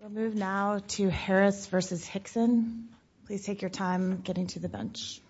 We'll move now to Harris v. Hixon, please take your time getting to the bench.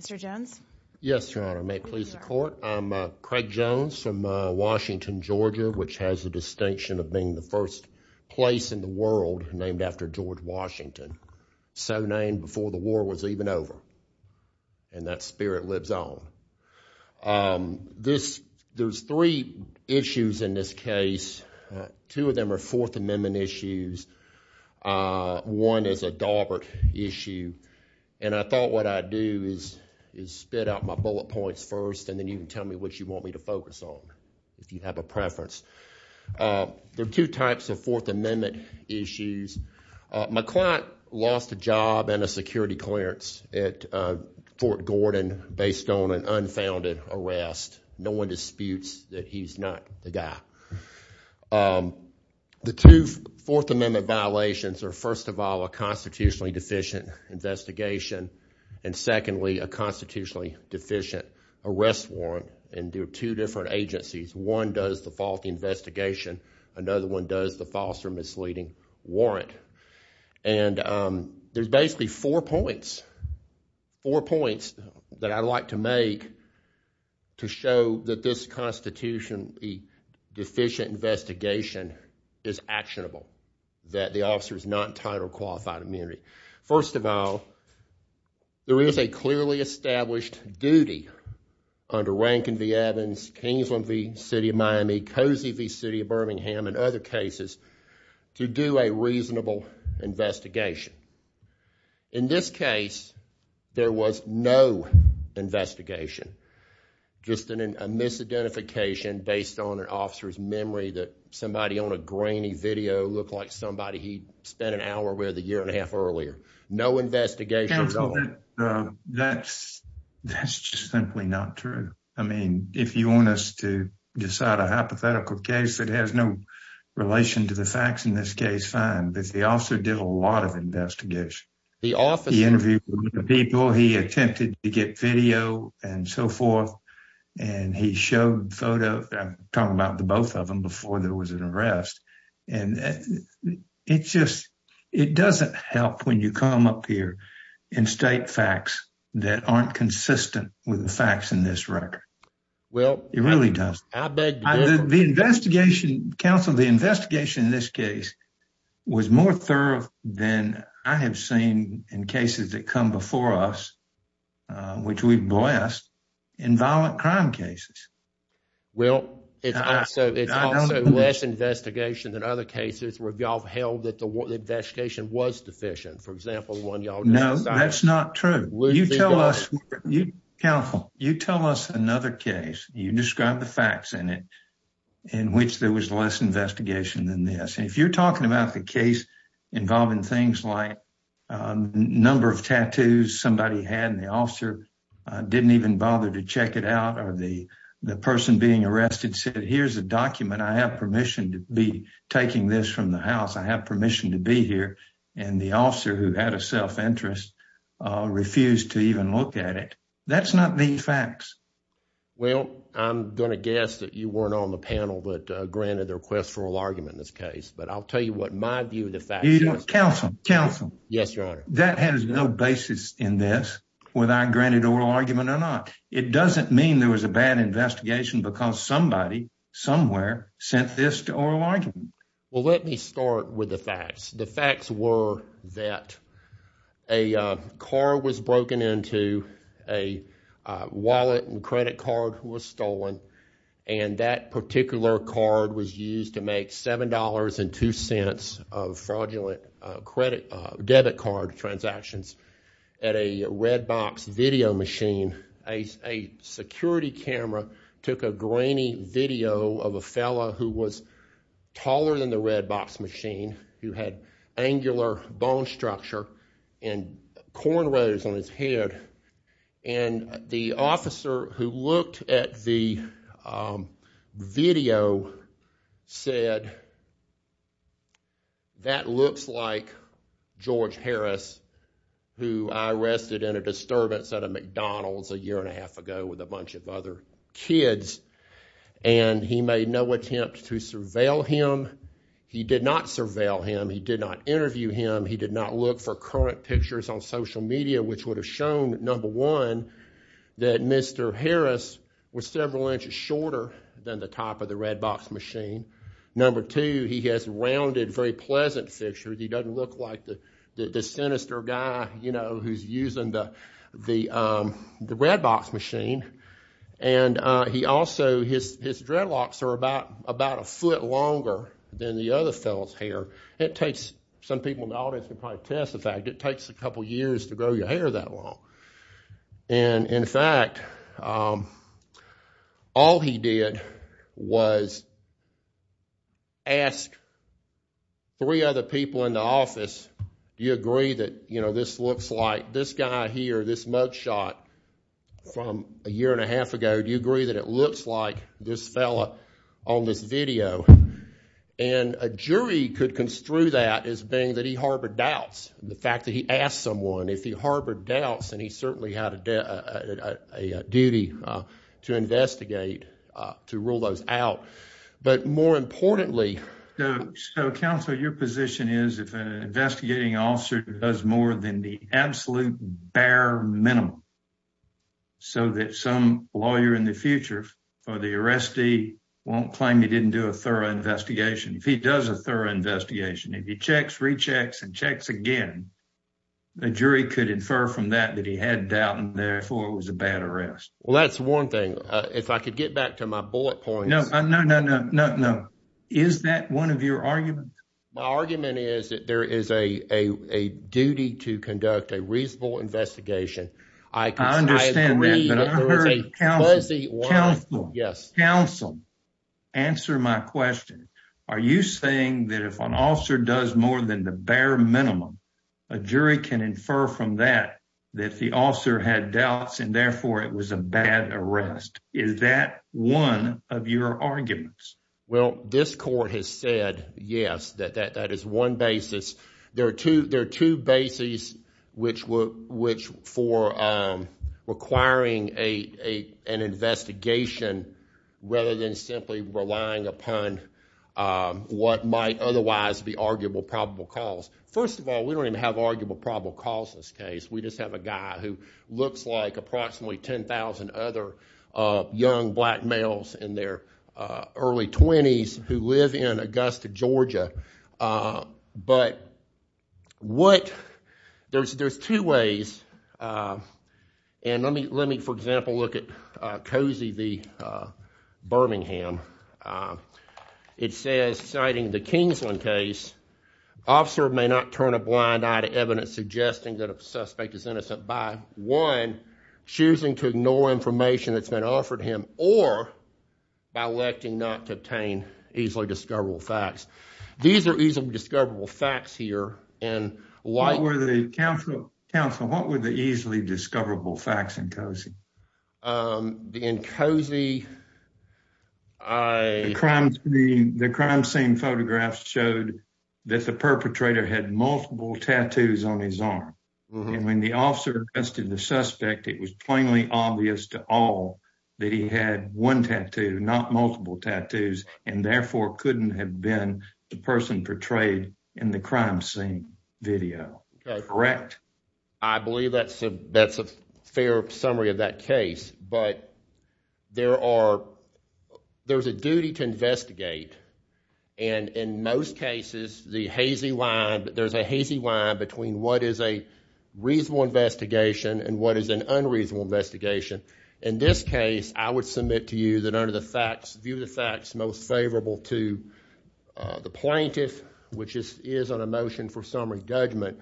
Mr. Jones Yes, Your Honor. May it please the court. I'm Craig Jones from Washington, Georgia, which has the distinction of being the first place in the world named after George Washington, so named before the war was even over, and that spirit lives on. There's three issues in this case. Two of them are Fourth Amendment issues. One is a Daubert issue, and I thought what I'd do is spit out my bullet points first, and then you can tell me what you want me to focus on, if you have a preference. There are two types of Fourth Amendment issues. My client lost a job and a security clearance at Fort Gordon based on an unfounded arrest. No one disputes that he's not the guy. The two Fourth Amendment violations are, first of all, a constitutionally deficient investigation, and secondly, a constitutionally deficient arrest warrant, and they're two different agencies. One does the faulty investigation, another one does the false or misleading warrant, and there's basically four points that I'd like to make to show that this constitutionally deficient investigation is actionable, that the officer is not entitled to qualified immunity. First of all, there is a clearly to do a reasonable investigation. In this case, there was no investigation, just a misidentification based on an officer's memory that somebody on a grainy video looked like somebody he'd spent an hour with a year and a half earlier. No investigation at all. That's just simply not true. I mean, if you want us to decide a hypothetical case that has no relation to the facts in this case, fine, but the officer did a lot of investigation. He interviewed people, he attempted to get video and so forth, and he showed a photo. I'm talking about the both of them before there was an arrest, and it just it doesn't help when you come up here and state facts that aren't consistent with the facts in this record. Well, it really does. The investigation, counsel, the investigation in this case was more thorough than I have seen in cases that come before us, which we've blessed, in violent crime cases. Well, it's also less investigation than other cases where y'all held that the investigation was deficient. For example, one y'all know that's not true. You tell us, counsel, you tell us another case, you describe the facts in it, in which there was less investigation than this. If you're talking about the case involving things like number of tattoos somebody had, and the officer didn't even bother to check it out, or the person being arrested said, here's a document, I have permission to be taking this from the house, I have permission to be here, and the officer who had a self-interest refused to even look at it. That's not the facts. Well, I'm going to guess that you weren't on the panel but granted the request for oral argument in this case, but I'll tell you what my view of the facts is. Counsel, counsel. Yes, your honor. That has no basis in this whether I granted oral argument or not. It doesn't mean there was a bad investigation because somebody, somewhere, sent this to oral argument. Well, let me start with the facts. The facts were that a car was broken into, a wallet and credit card was stolen, and that particular card was used to make seven dollars and two cents of fraudulent credit, debit card transactions at a red box video machine. A security camera took a grainy video of a fellow who was taller than the red box machine, who had angular bone structure and cornrows on his head, and the officer who looked at the video said, that looks like George Harris, who I arrested in a disturbance at a McDonald's a year and a half ago with a bunch of other kids, and he made no attempt to surveil him. He did not surveil him. He did not interview him. He did not look for current pictures on was several inches shorter than the top of the red box machine. Number two, he has rounded, very pleasant pictures. He doesn't look like the sinister guy, you know, who's using the the red box machine, and he also, his dreadlocks are about a foot longer than the other fellow's hair. It takes, some people in the audience can probably attest to the fact, it takes a couple years to grow your hair that long, and in fact, all he did was ask three other people in the office, do you agree that, you know, this looks like this guy here, this mug shot from a year and a half ago, do you agree that it looks like this fellow on this video, and a jury could construe that as that he harbored doubts. The fact that he asked someone, if he harbored doubts, and he certainly had a duty to investigate, to rule those out, but more importantly, so counsel, your position is, if an investigating officer does more than the absolute bare minimum, so that some lawyer in the future for the arrestee won't claim he didn't do a thorough investigation, if he does a thorough investigation, if he checks, rechecks, and checks again, a jury could infer from that, that he had doubt, and therefore, it was a bad arrest. Well, that's one thing, if I could get back to my bullet points. No, no, no, no, no, no. Is that one of your arguments? My argument is, that there is a duty to conduct a reasonable investigation. I understand that, but I heard counsel, yes, counsel, answer my question. Are you saying that if an officer does more than the bare minimum, a jury can infer from that, that the officer had doubts, and therefore, it was a bad arrest? Is that one of your arguments? Well, this court has said, yes, that that is one basis. There are two bases, which for requiring an investigation, rather than simply relying upon what might otherwise be arguable probable cause. First of all, we don't even have arguable probable causes case. We just have a guy who looks like approximately 10,000 other young black males in their early 20s who live in Augusta, Georgia. But what, there's two ways, and let me, for example, look at Cozy v. Birmingham. It says, citing the Kingsland case, officer may not turn a blind eye to evidence suggesting that a suspect is innocent by, one, choosing to ignore information that's offered him, or by electing not to obtain easily discoverable facts. These are easily discoverable facts here. What were the easily discoverable facts in Cozy? The crime scene photographs showed that the perpetrator had multiple tattoos on his arm, and when the officer arrested the suspect, it was plainly obvious to all that he had one tattoo, not multiple tattoos, and therefore couldn't have been the person portrayed in the crime scene video. Correct? I believe that's a fair summary of that case, but there are, there's a duty to investigate, and in most cases, the hazy line, there's a hazy line between what is a reasonable investigation and what is an unreasonable investigation. In this case, I would submit to you that under the facts, view of the facts most favorable to the plaintiff, which is on a motion for summary judgment,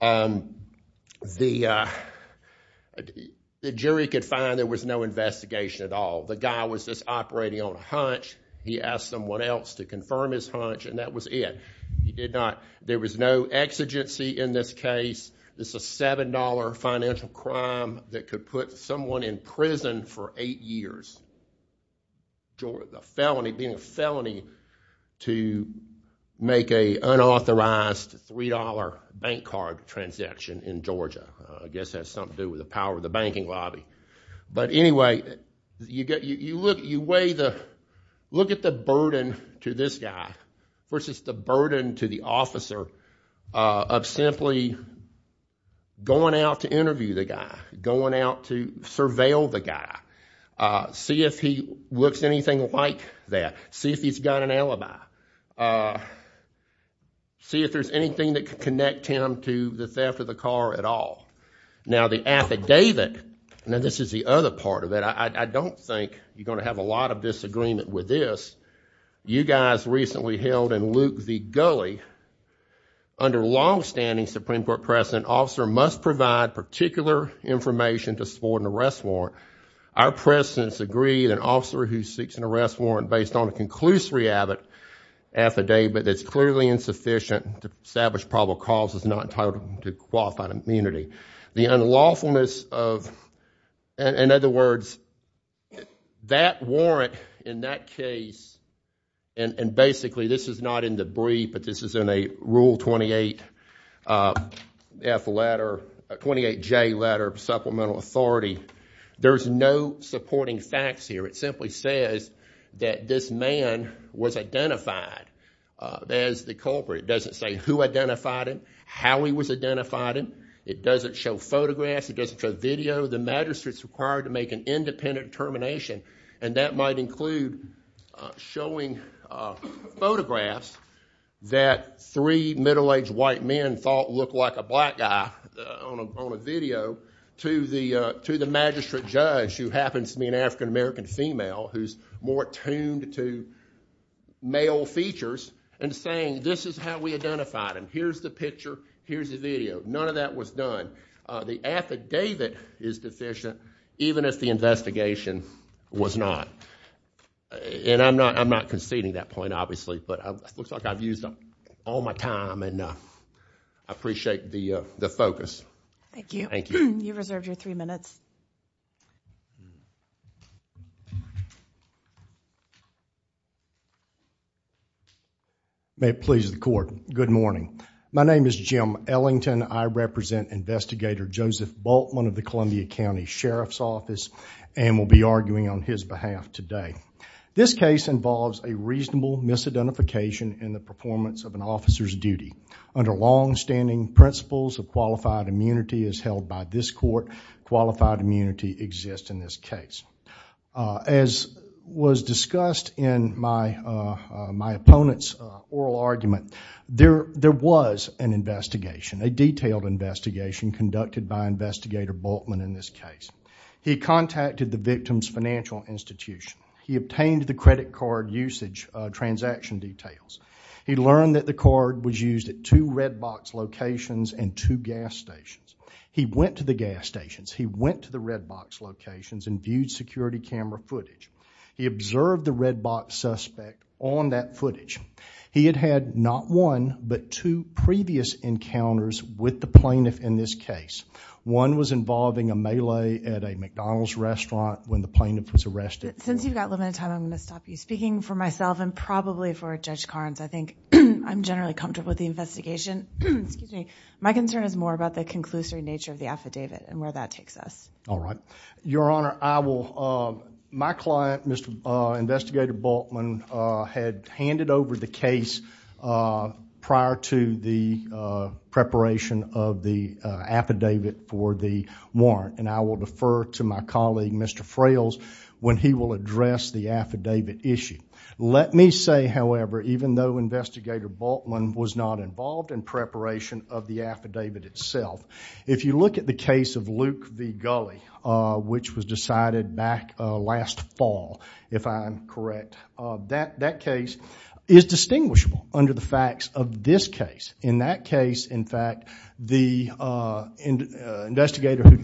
the jury could find there was no investigation at all. The guy was just operating on hunch. He asked someone else to confirm his case. This is a $7 financial crime that could put someone in prison for eight years. The felony, being a felony to make a unauthorized $3 bank card transaction in Georgia, I guess has something to do with the power of the banking lobby. But anyway, you weigh the, look at the going out to interview the guy, going out to surveil the guy, see if he looks anything like that, see if he's got an alibi, see if there's anything that could connect him to the theft of the car at all. Now the affidavit, now this is the other part of it, I don't think you're going to have a lot of disagreement with this. You guys recently held in Luke v. Gulley, under longstanding Supreme Court precedent, an officer must provide particular information to support an arrest warrant. Our precedents agree that an officer who seeks an arrest warrant based on a conclusory affidavit that's clearly insufficient to establish probable cause is not entitled to qualified immunity. The unlawfulness of, in other words, that warrant in that case, and basically this is not in the brief, but this is in a Rule 28F letter, 28J letter, Supplemental Authority, there's no supporting facts here. It simply says that this man was identified as the culprit. It doesn't say who identified him, how he was identified him, it doesn't show photographs, it doesn't show video, the magistrate's required to make an showing photographs that three middle-aged white men thought looked like a black guy on a video to the magistrate judge, who happens to be an African-American female who's more attuned to male features, and saying this is how we identified him, here's the picture, here's the video. None of that was done. The affidavit is deficient even if the investigation was not. I'm not conceding that point, obviously, but it looks like I've used all my time and I appreciate the focus. Thank you. Thank you. You've reserved your three minutes. May it please the court. Good morning. My name is Jim Ellington. I represent Investigator Joseph Bultman of the Columbia County Sheriff's Office and will be arguing on his behalf today. This case involves a reasonable misidentification in the performance of an officer's duty. Under long-standing principles of qualified immunity as held by this court, qualified immunity exists in this case. As was discussed in my opponent's oral argument, there was an investigation, a detailed investigation conducted by Investigator Bultman in this case. He contacted the victim's financial institution. He obtained the credit card usage transaction details. He learned that the card was used at two red box locations and two gas stations. He went to the gas stations, he went to the red box locations and viewed security camera footage. He observed the red box suspect on that footage. He had had not one, but two previous encounters with the plaintiff in this case. One was involving a melee at a McDonald's restaurant when the plaintiff was arrested. Since you've got limited time, I'm going to stop you speaking for myself and probably for Judge Carnes. I think I'm generally comfortable with the investigation. My concern is more about the conclusory nature of the affidavit and where that takes us. Your Honor, my client, Investigator Bultman, had handed over the case prior to the preparation of the affidavit for the warrant. I will defer to my colleague, Mr. Frails, when he will address the affidavit issue. Let me say, however, even though Investigator Bultman was not involved in preparation of the affidavit itself, if you look at the case of Luke v. Gulley, which was decided back last fall, if I'm correct, that case is distinguishable under the facts of this case. In that case, in fact, the investigator who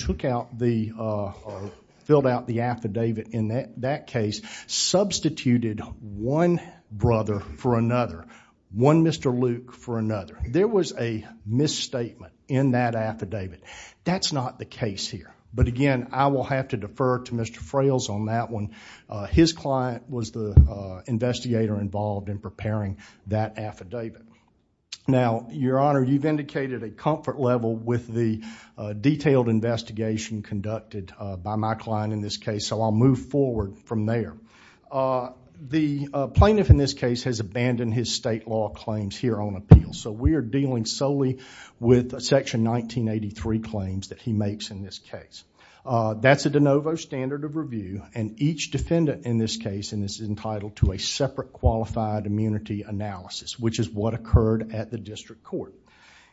filled out the affidavit in that case substituted one brother for another, one Mr. Luke for another. There was a misstatement in that affidavit. That's not the case here, but again, I will have to defer to Mr. Frails on that one. His client was the investigator involved in preparing that affidavit. Now, Your Honor, you've indicated a comfort level with the detailed investigation conducted by my client in this case, so I'll move forward from there. The plaintiff in this case has abandoned his state law claims here on appeal, so we are dealing solely with Section 1983 claims that he makes in this case. That's a de novo standard of review, and each defendant in this case is entitled to a separate qualified immunity analysis, which is what occurred at the district court.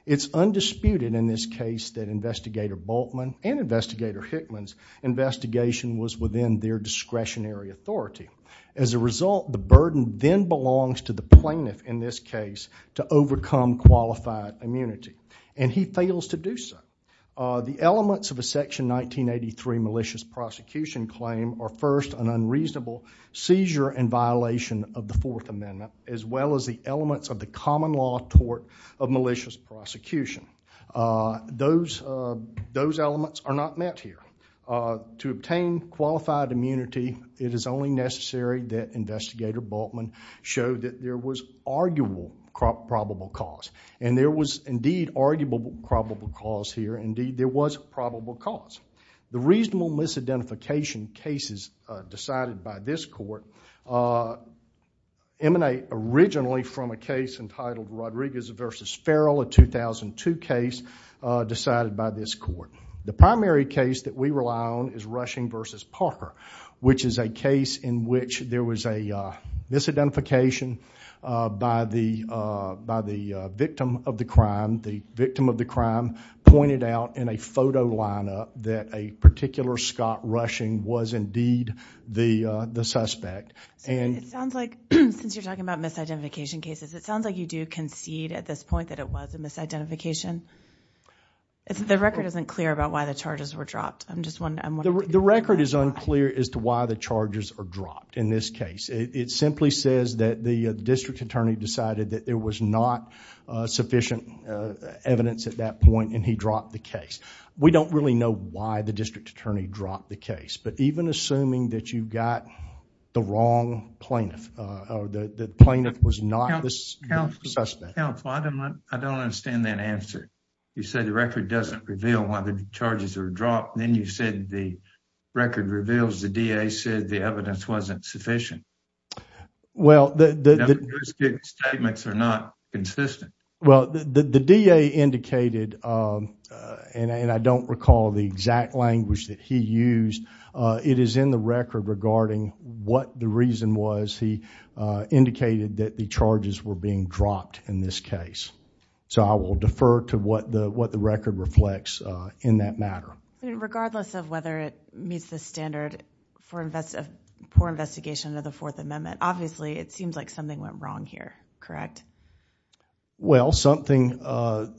It's undisputed in this discretionary authority. As a result, the burden then belongs to the plaintiff in this case to overcome qualified immunity, and he fails to do so. The elements of a Section 1983 malicious prosecution claim are first an unreasonable seizure and violation of the Fourth Amendment, as well as the elements of the common law tort of malicious prosecution. Those elements are not met here. To obtain qualified immunity, it is only necessary that Investigator Bultman show that there was arguable probable cause, and there was indeed arguable probable cause here. Indeed, there was probable cause. The reasonable misidentification cases decided by this court emanate originally from a case entitled Rodriguez v. Farrell, a 2002 case decided by this court. The primary case that we rely on is Rushing v. Parker, which is a case in which there was a misidentification by the victim of the crime. The victim of the crime pointed out in a photo lineup that a particular Scott Rushing was indeed the suspect. Since you're talking about misidentification cases, it sounds like you do concede at this point that it was a misidentification. The record isn't clear about why the charges were dropped. I'm just wondering. The record is unclear as to why the charges are dropped in this case. It simply says that the district attorney decided that there was not sufficient evidence at that point, and he dropped the case. We don't really know why the district attorney dropped the case, but even assuming that you got the wrong plaintiff, or the plaintiff was not the suspect. I don't understand that answer. You say the record doesn't reveal why the charges are dropped, then you said the record reveals the DA said the evidence wasn't sufficient. Well, the statements are not consistent. Well, the DA indicated, and I don't recall the exact language that he used, it is in the record regarding what the reason was he indicated that the charges were being dropped in this case. I will defer to what the record reflects in that matter. Regardless of whether it meets the standard for poor investigation of the Fourth Amendment, obviously it seems like something went wrong here, correct? Well, when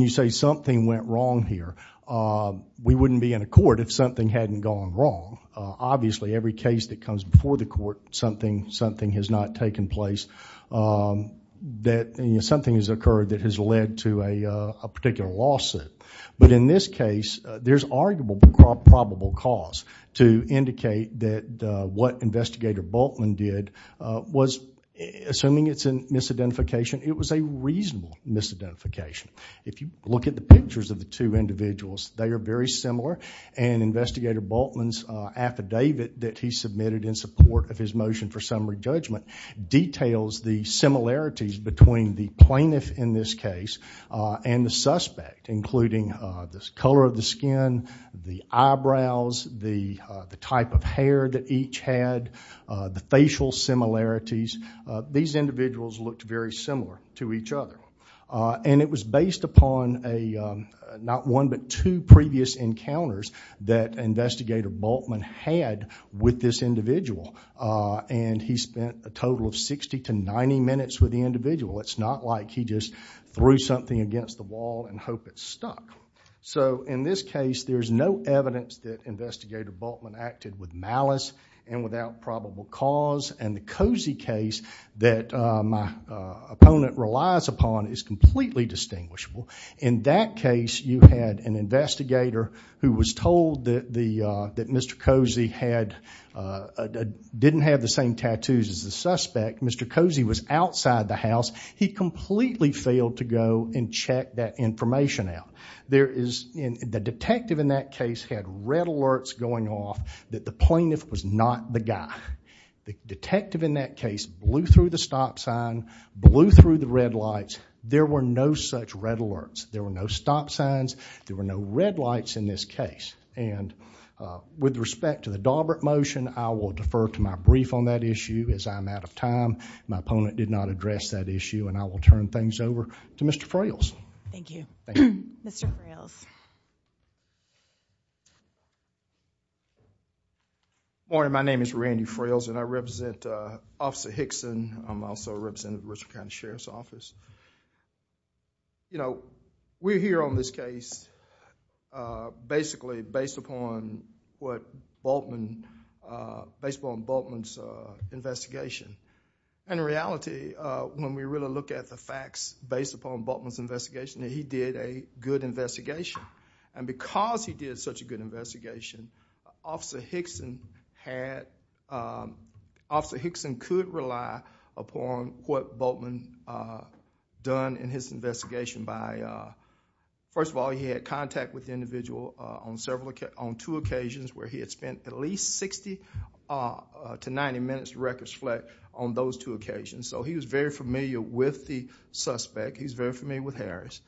you say something went wrong here, we wouldn't be in a court if something hadn't gone wrong. Obviously, every case that comes before the court, something has not taken place. Something has occurred that has led to a particular lawsuit, but in this case, there's arguable probable cause to indicate that what Investigator Bultman did was, assuming it's a misidentification, it was a reasonable misidentification. If you look at the pictures of the two individuals, they are very similar, and Investigator Bultman's affidavit that he submitted in support of his motion for summary judgment details the similarities between the plaintiff in this case and the suspect, including the color of the skin, the eyebrows, the type of hair that each had, the facial similarities. These individuals looked very similar to each other, and it was based upon not one but two previous encounters that Investigator Bultman had with this individual, and he spent a total of 60 to 90 minutes with the individual. It's not like he just threw something against the wall and hoped it stuck. So, in this case, there's no evidence that Investigator Bultman acted with malice and without probable cause, and the Cozy case that my opponent relies upon is completely distinguishable. In that case, you had an investigator who was told that Mr. Cozy didn't have the same tattoos as the suspect. Mr. Cozy was outside the house. He completely failed to go and check that information out. The detective in that case had red alerts going off that the plaintiff was not the guy. The detective in that case blew through the stop sign, blew through the red lights. There were no such red alerts. There were no stop signs. There were no red lights in this case, and with respect to the Daubert motion, I will defer to my brief on that issue as I'm out of time. My opponent did not address that issue, and I will turn things over to Mr. Frailes. Thank you. Mr. Frailes. Good morning. My name is Randy Frailes, and I represent Officer Hickson. I'm also representing the Richmond County Sheriff's Office. We're here on this case basically based upon Bultman's investigation. In reality, when we really look at the facts based upon Bultman's investigation, and because he did such a good investigation, Officer Hickson could rely upon what Bultman done in his investigation. First of all, he had contact with the individual on two occasions where he had spent at least 60 to 90 minutes, records flat, on those two occasions. He was very familiar with the suspect. He's very familiar with Harris.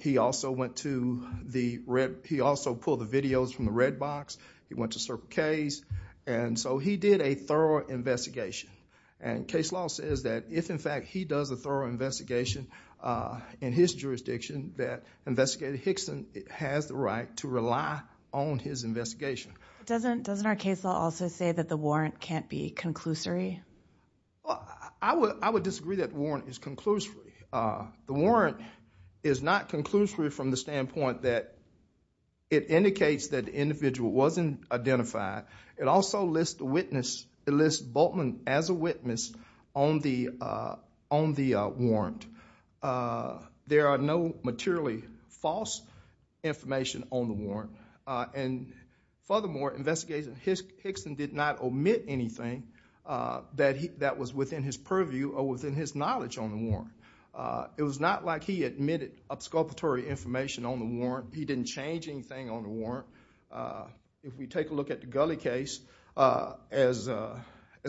He also pulled the videos from the red box. He went to Sir K's. He did a thorough investigation. Case law says that if, in fact, he does a thorough investigation in his jurisdiction, that Investigator Hickson has the right to rely on his investigation. Doesn't our case law also say that the warrant can't be conclusory? I would disagree that warrant is conclusory. The warrant is not conclusory from the standpoint that it indicates that the individual wasn't identified. It also lists Bultman as a witness on the warrant. There are no materially false information on the warrant. Furthermore, Investigator Hickson did not omit anything that was within his purview or within his knowledge on the warrant. It was not like he admitted obsculpatory information on the warrant. He didn't change anything on the warrant. If we take a look at the Gully case, as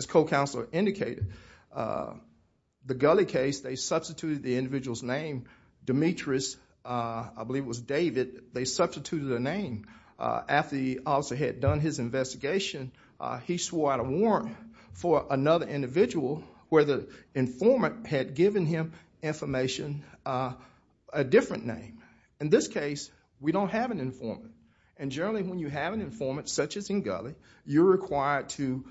co-counselor indicated, the Gully case, they substituted the individual's name. Demetrius, I believe it was David, they substituted a name. After the officer had done his investigation, he swore out a warrant for another individual where the informant had given him information, a different name. In this case, we don't have an informant. Generally, when you have an informant, such as in Gully, you're required to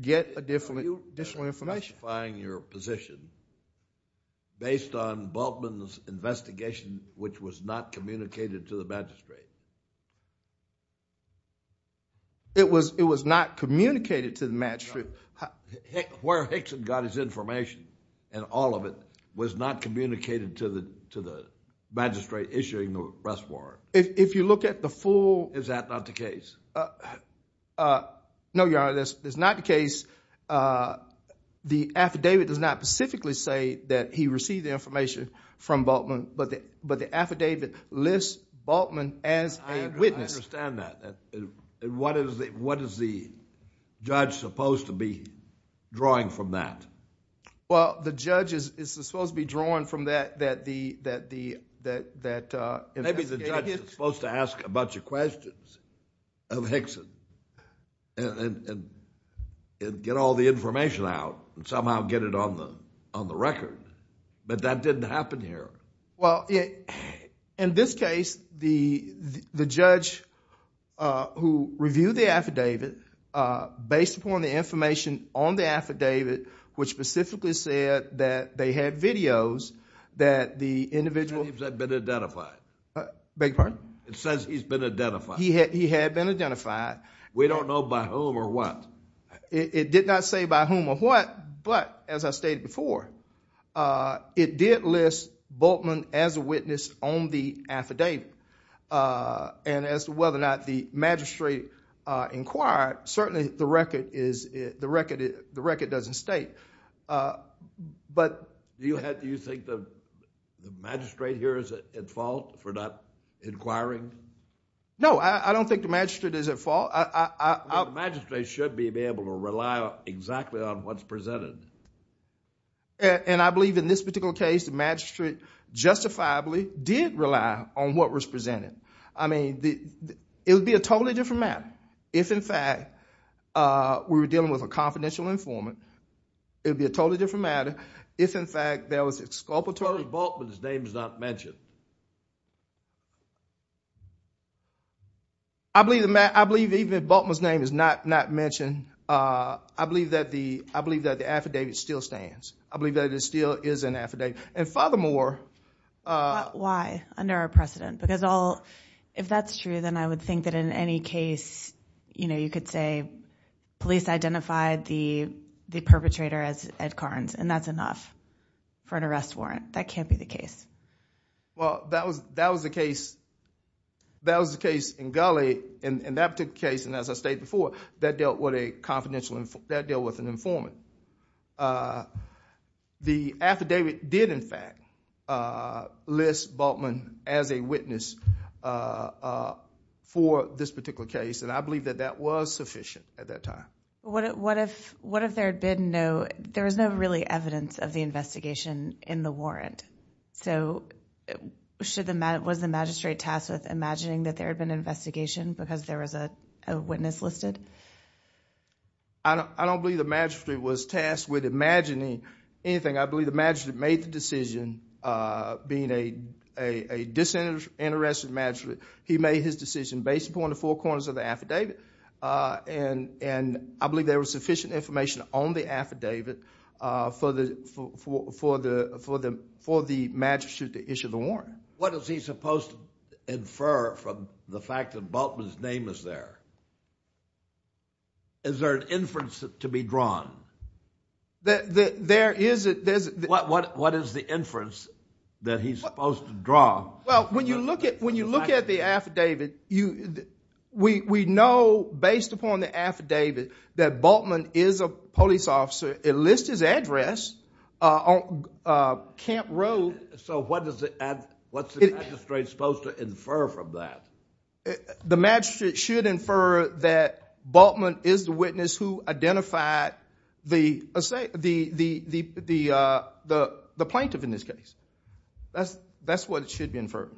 get additional information. Are you identifying your position based on Bultman's investigation, which was not communicated to the magistrate? It was not communicated to the magistrate. Where Hickson got his information and all of it was not communicated to the magistrate issuing the arrest warrant? If you look at the full... case, the affidavit does not specifically say that he received the information from Bultman, but the affidavit lists Bultman as a witness. I understand that. What is the judge supposed to be drawing from that? Well, the judge is supposed to be drawing from that. Maybe the judge is supposed to ask a bunch of questions of Hickson and get all the information out and somehow get it on the record, but that didn't happen here. In this case, the judge who reviewed the affidavit based upon the information on the affidavit, it says he's been identified. He had been identified. We don't know by whom or what. It did not say by whom or what, but as I stated before, it did list Bultman as a witness on the affidavit. As to whether or not the magistrate inquired, certainly the record doesn't state. Do you think the magistrate here is at fault for not inquiring? No, I don't think the magistrate is at fault. The magistrate should be able to rely exactly on what's presented. And I believe in this particular case, the magistrate justifiably did rely on what was presented. It would be a totally different matter if, in fact, we were dealing with a confidential informant. It would be a totally different matter if, in fact, there was exculpatory- Bultman's name is not mentioned. I believe even if Bultman's name is not mentioned, I believe that the affidavit still stands. I believe that it still is an affidavit. And furthermore- Why, under our precedent? Because if that's true, then I would think that in any case, you could say police identified the perpetrator as Ed Carnes, and that's enough for an arrest warrant. That can't be the case. Well, that was the case in Gully. In that particular case, and as I stated before, that dealt with an informant. The affidavit did, in fact, list Bultman as a witness for this particular case, and I believe that that was sufficient at that time. What if there had been no- There was no really evidence of the investigation in the warrant? So, was the magistrate tasked with imagining that there had been an investigation because there was a witness listed? I don't believe the magistrate was tasked with imagining anything. I believe the magistrate made the decision, being a disinterested magistrate, he made his decision based upon the four corners of the affidavit, and I believe there was sufficient information on the affidavit for the magistrate to issue the warrant. What is he supposed to infer from the fact that Bultman's name is there? Is there an inference to be drawn? There is. What is the inference that he's supposed to draw? Well, when you look at the affidavit, we know based upon the affidavit that Bultman is a police officer. It lists his address on Camp Road. So, what's the magistrate supposed to infer from that? The magistrate should infer that Bultman is the witness who identified the plaintiff in this case. That's what should be inferred.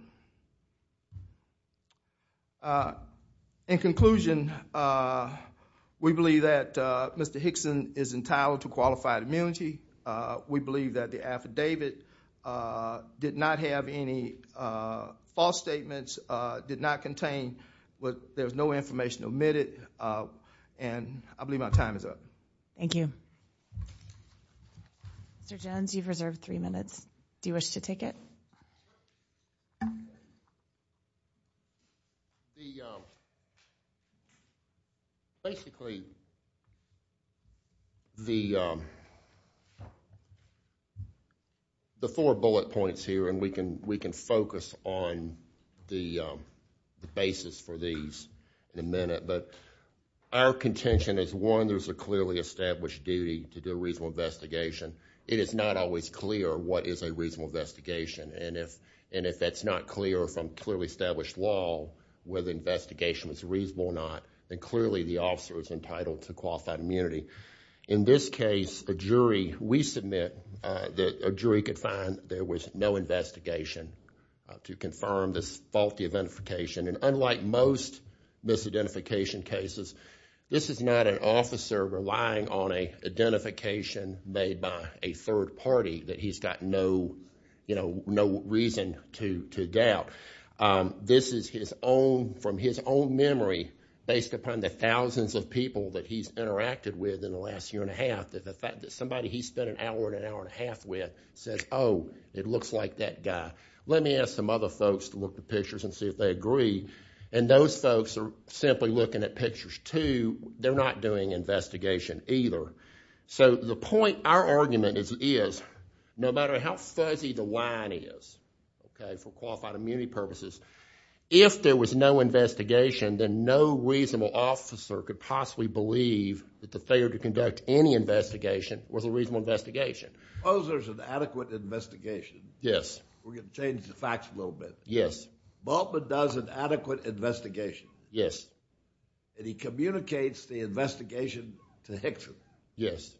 In conclusion, we believe that Mr. Hickson is entitled to qualified immunity. We believe that the affidavit did not have any false statements, did not contain, there was no information omitted, and I believe my time is up. Thank you. Mr. Jones, you've reserved three minutes. Do you wish to take it? Basically, the four bullet points here, and we can focus on the basis for these in a minute, but our contention is, one, there's a clearly established duty to do a reasonable investigation. It is not always clear what is a reasonable investigation, and if that's not clear from clearly established law, whether the investigation was reasonable or not, then clearly the officer is entitled to qualified immunity. In this case, a jury, we submit that a jury could find there was no investigation to confirm this faulty identification, and unlike most misidentification cases, this is not an officer relying on an identification made by a third party that he's got no reason to doubt. This is from his own memory, based upon the thousands of people that he's interacted with in the last year and a half, that the fact that somebody he spent an hour and an hour and a half with says, oh, it looks like that guy. Let me ask some other folks to look at the pictures and see if they agree, and those either. So the point, our argument is, no matter how fuzzy the line is, okay, for qualified immunity purposes, if there was no investigation, then no reasonable officer could possibly believe that the failure to conduct any investigation was a reasonable investigation. Suppose there's an adequate investigation. Yes. We're going to change the facts a little bit. Yes. Bultman does an adequate investigation. Yes. And he communicates the investigation to Hickson. Yes.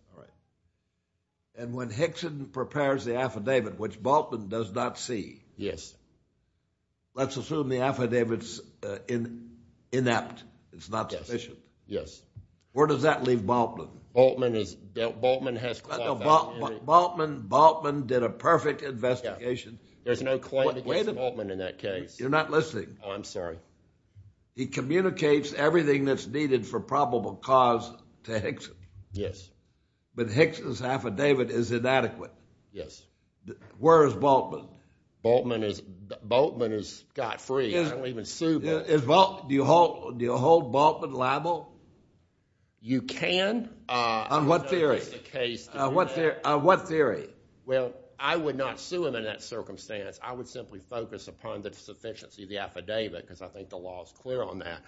And when Hickson prepares the affidavit, which Bultman does not see. Yes. Let's assume the affidavit's inept. It's not sufficient. Yes. Where does that leave Bultman? Bultman has qualified immunity. Bultman did a perfect investigation. There's no claim against Bultman in that case. You're not listening. Oh, I'm sorry. He communicates everything that's needed for probable cause to Hickson. Yes. But Hickson's affidavit is inadequate. Yes. Where is Bultman? Bultman is got free. I don't even sue Bultman. Do you hold Bultman liable? You can. On what theory? I don't know if that's the case. On what theory? Well, I would not sue him in that circumstance. I would simply focus upon the sufficiency of the affidavit, because I think the law is clear on that.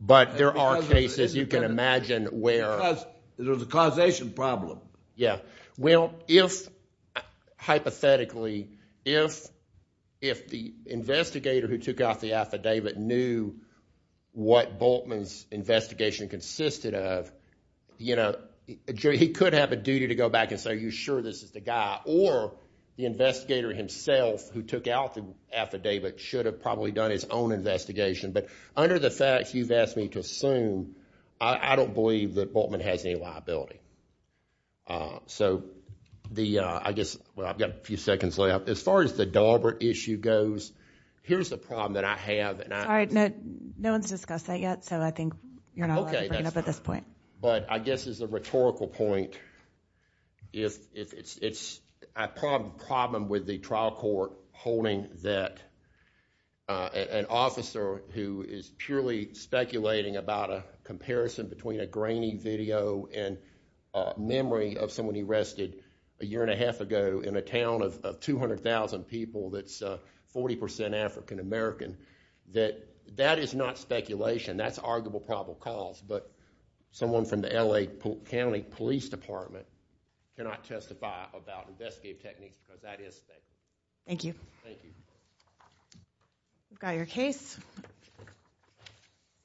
But there are cases you can imagine where- Because there's a causation problem. Yeah. Well, hypothetically, if the investigator who took out the affidavit knew what Bultman's investigation consisted of, he could have a duty to go back and say, are you sure this is the guy? Or the investigator himself who took out the affidavit should have probably done his own investigation. But under the facts you've asked me to assume, I don't believe that Bultman has any liability. So I guess- Well, I've got a few seconds left. As far as the Daubert issue goes, here's the problem that I have and I- All right, no one's discussed that yet, so I think you're not allowed to bring it up at this point. But I guess as a rhetorical point, if it's a problem with the trial court holding that an officer who is purely speculating about a comparison between a grainy video and a memory of someone he arrested a year and a half ago in a town of 200,000 people that's 40% African American, that that is not speculation. That's arguable probable cause. Someone from the L.A. County Police Department cannot testify about investigative techniques, but that is speculation. Thank you. Thank you. We've got your case.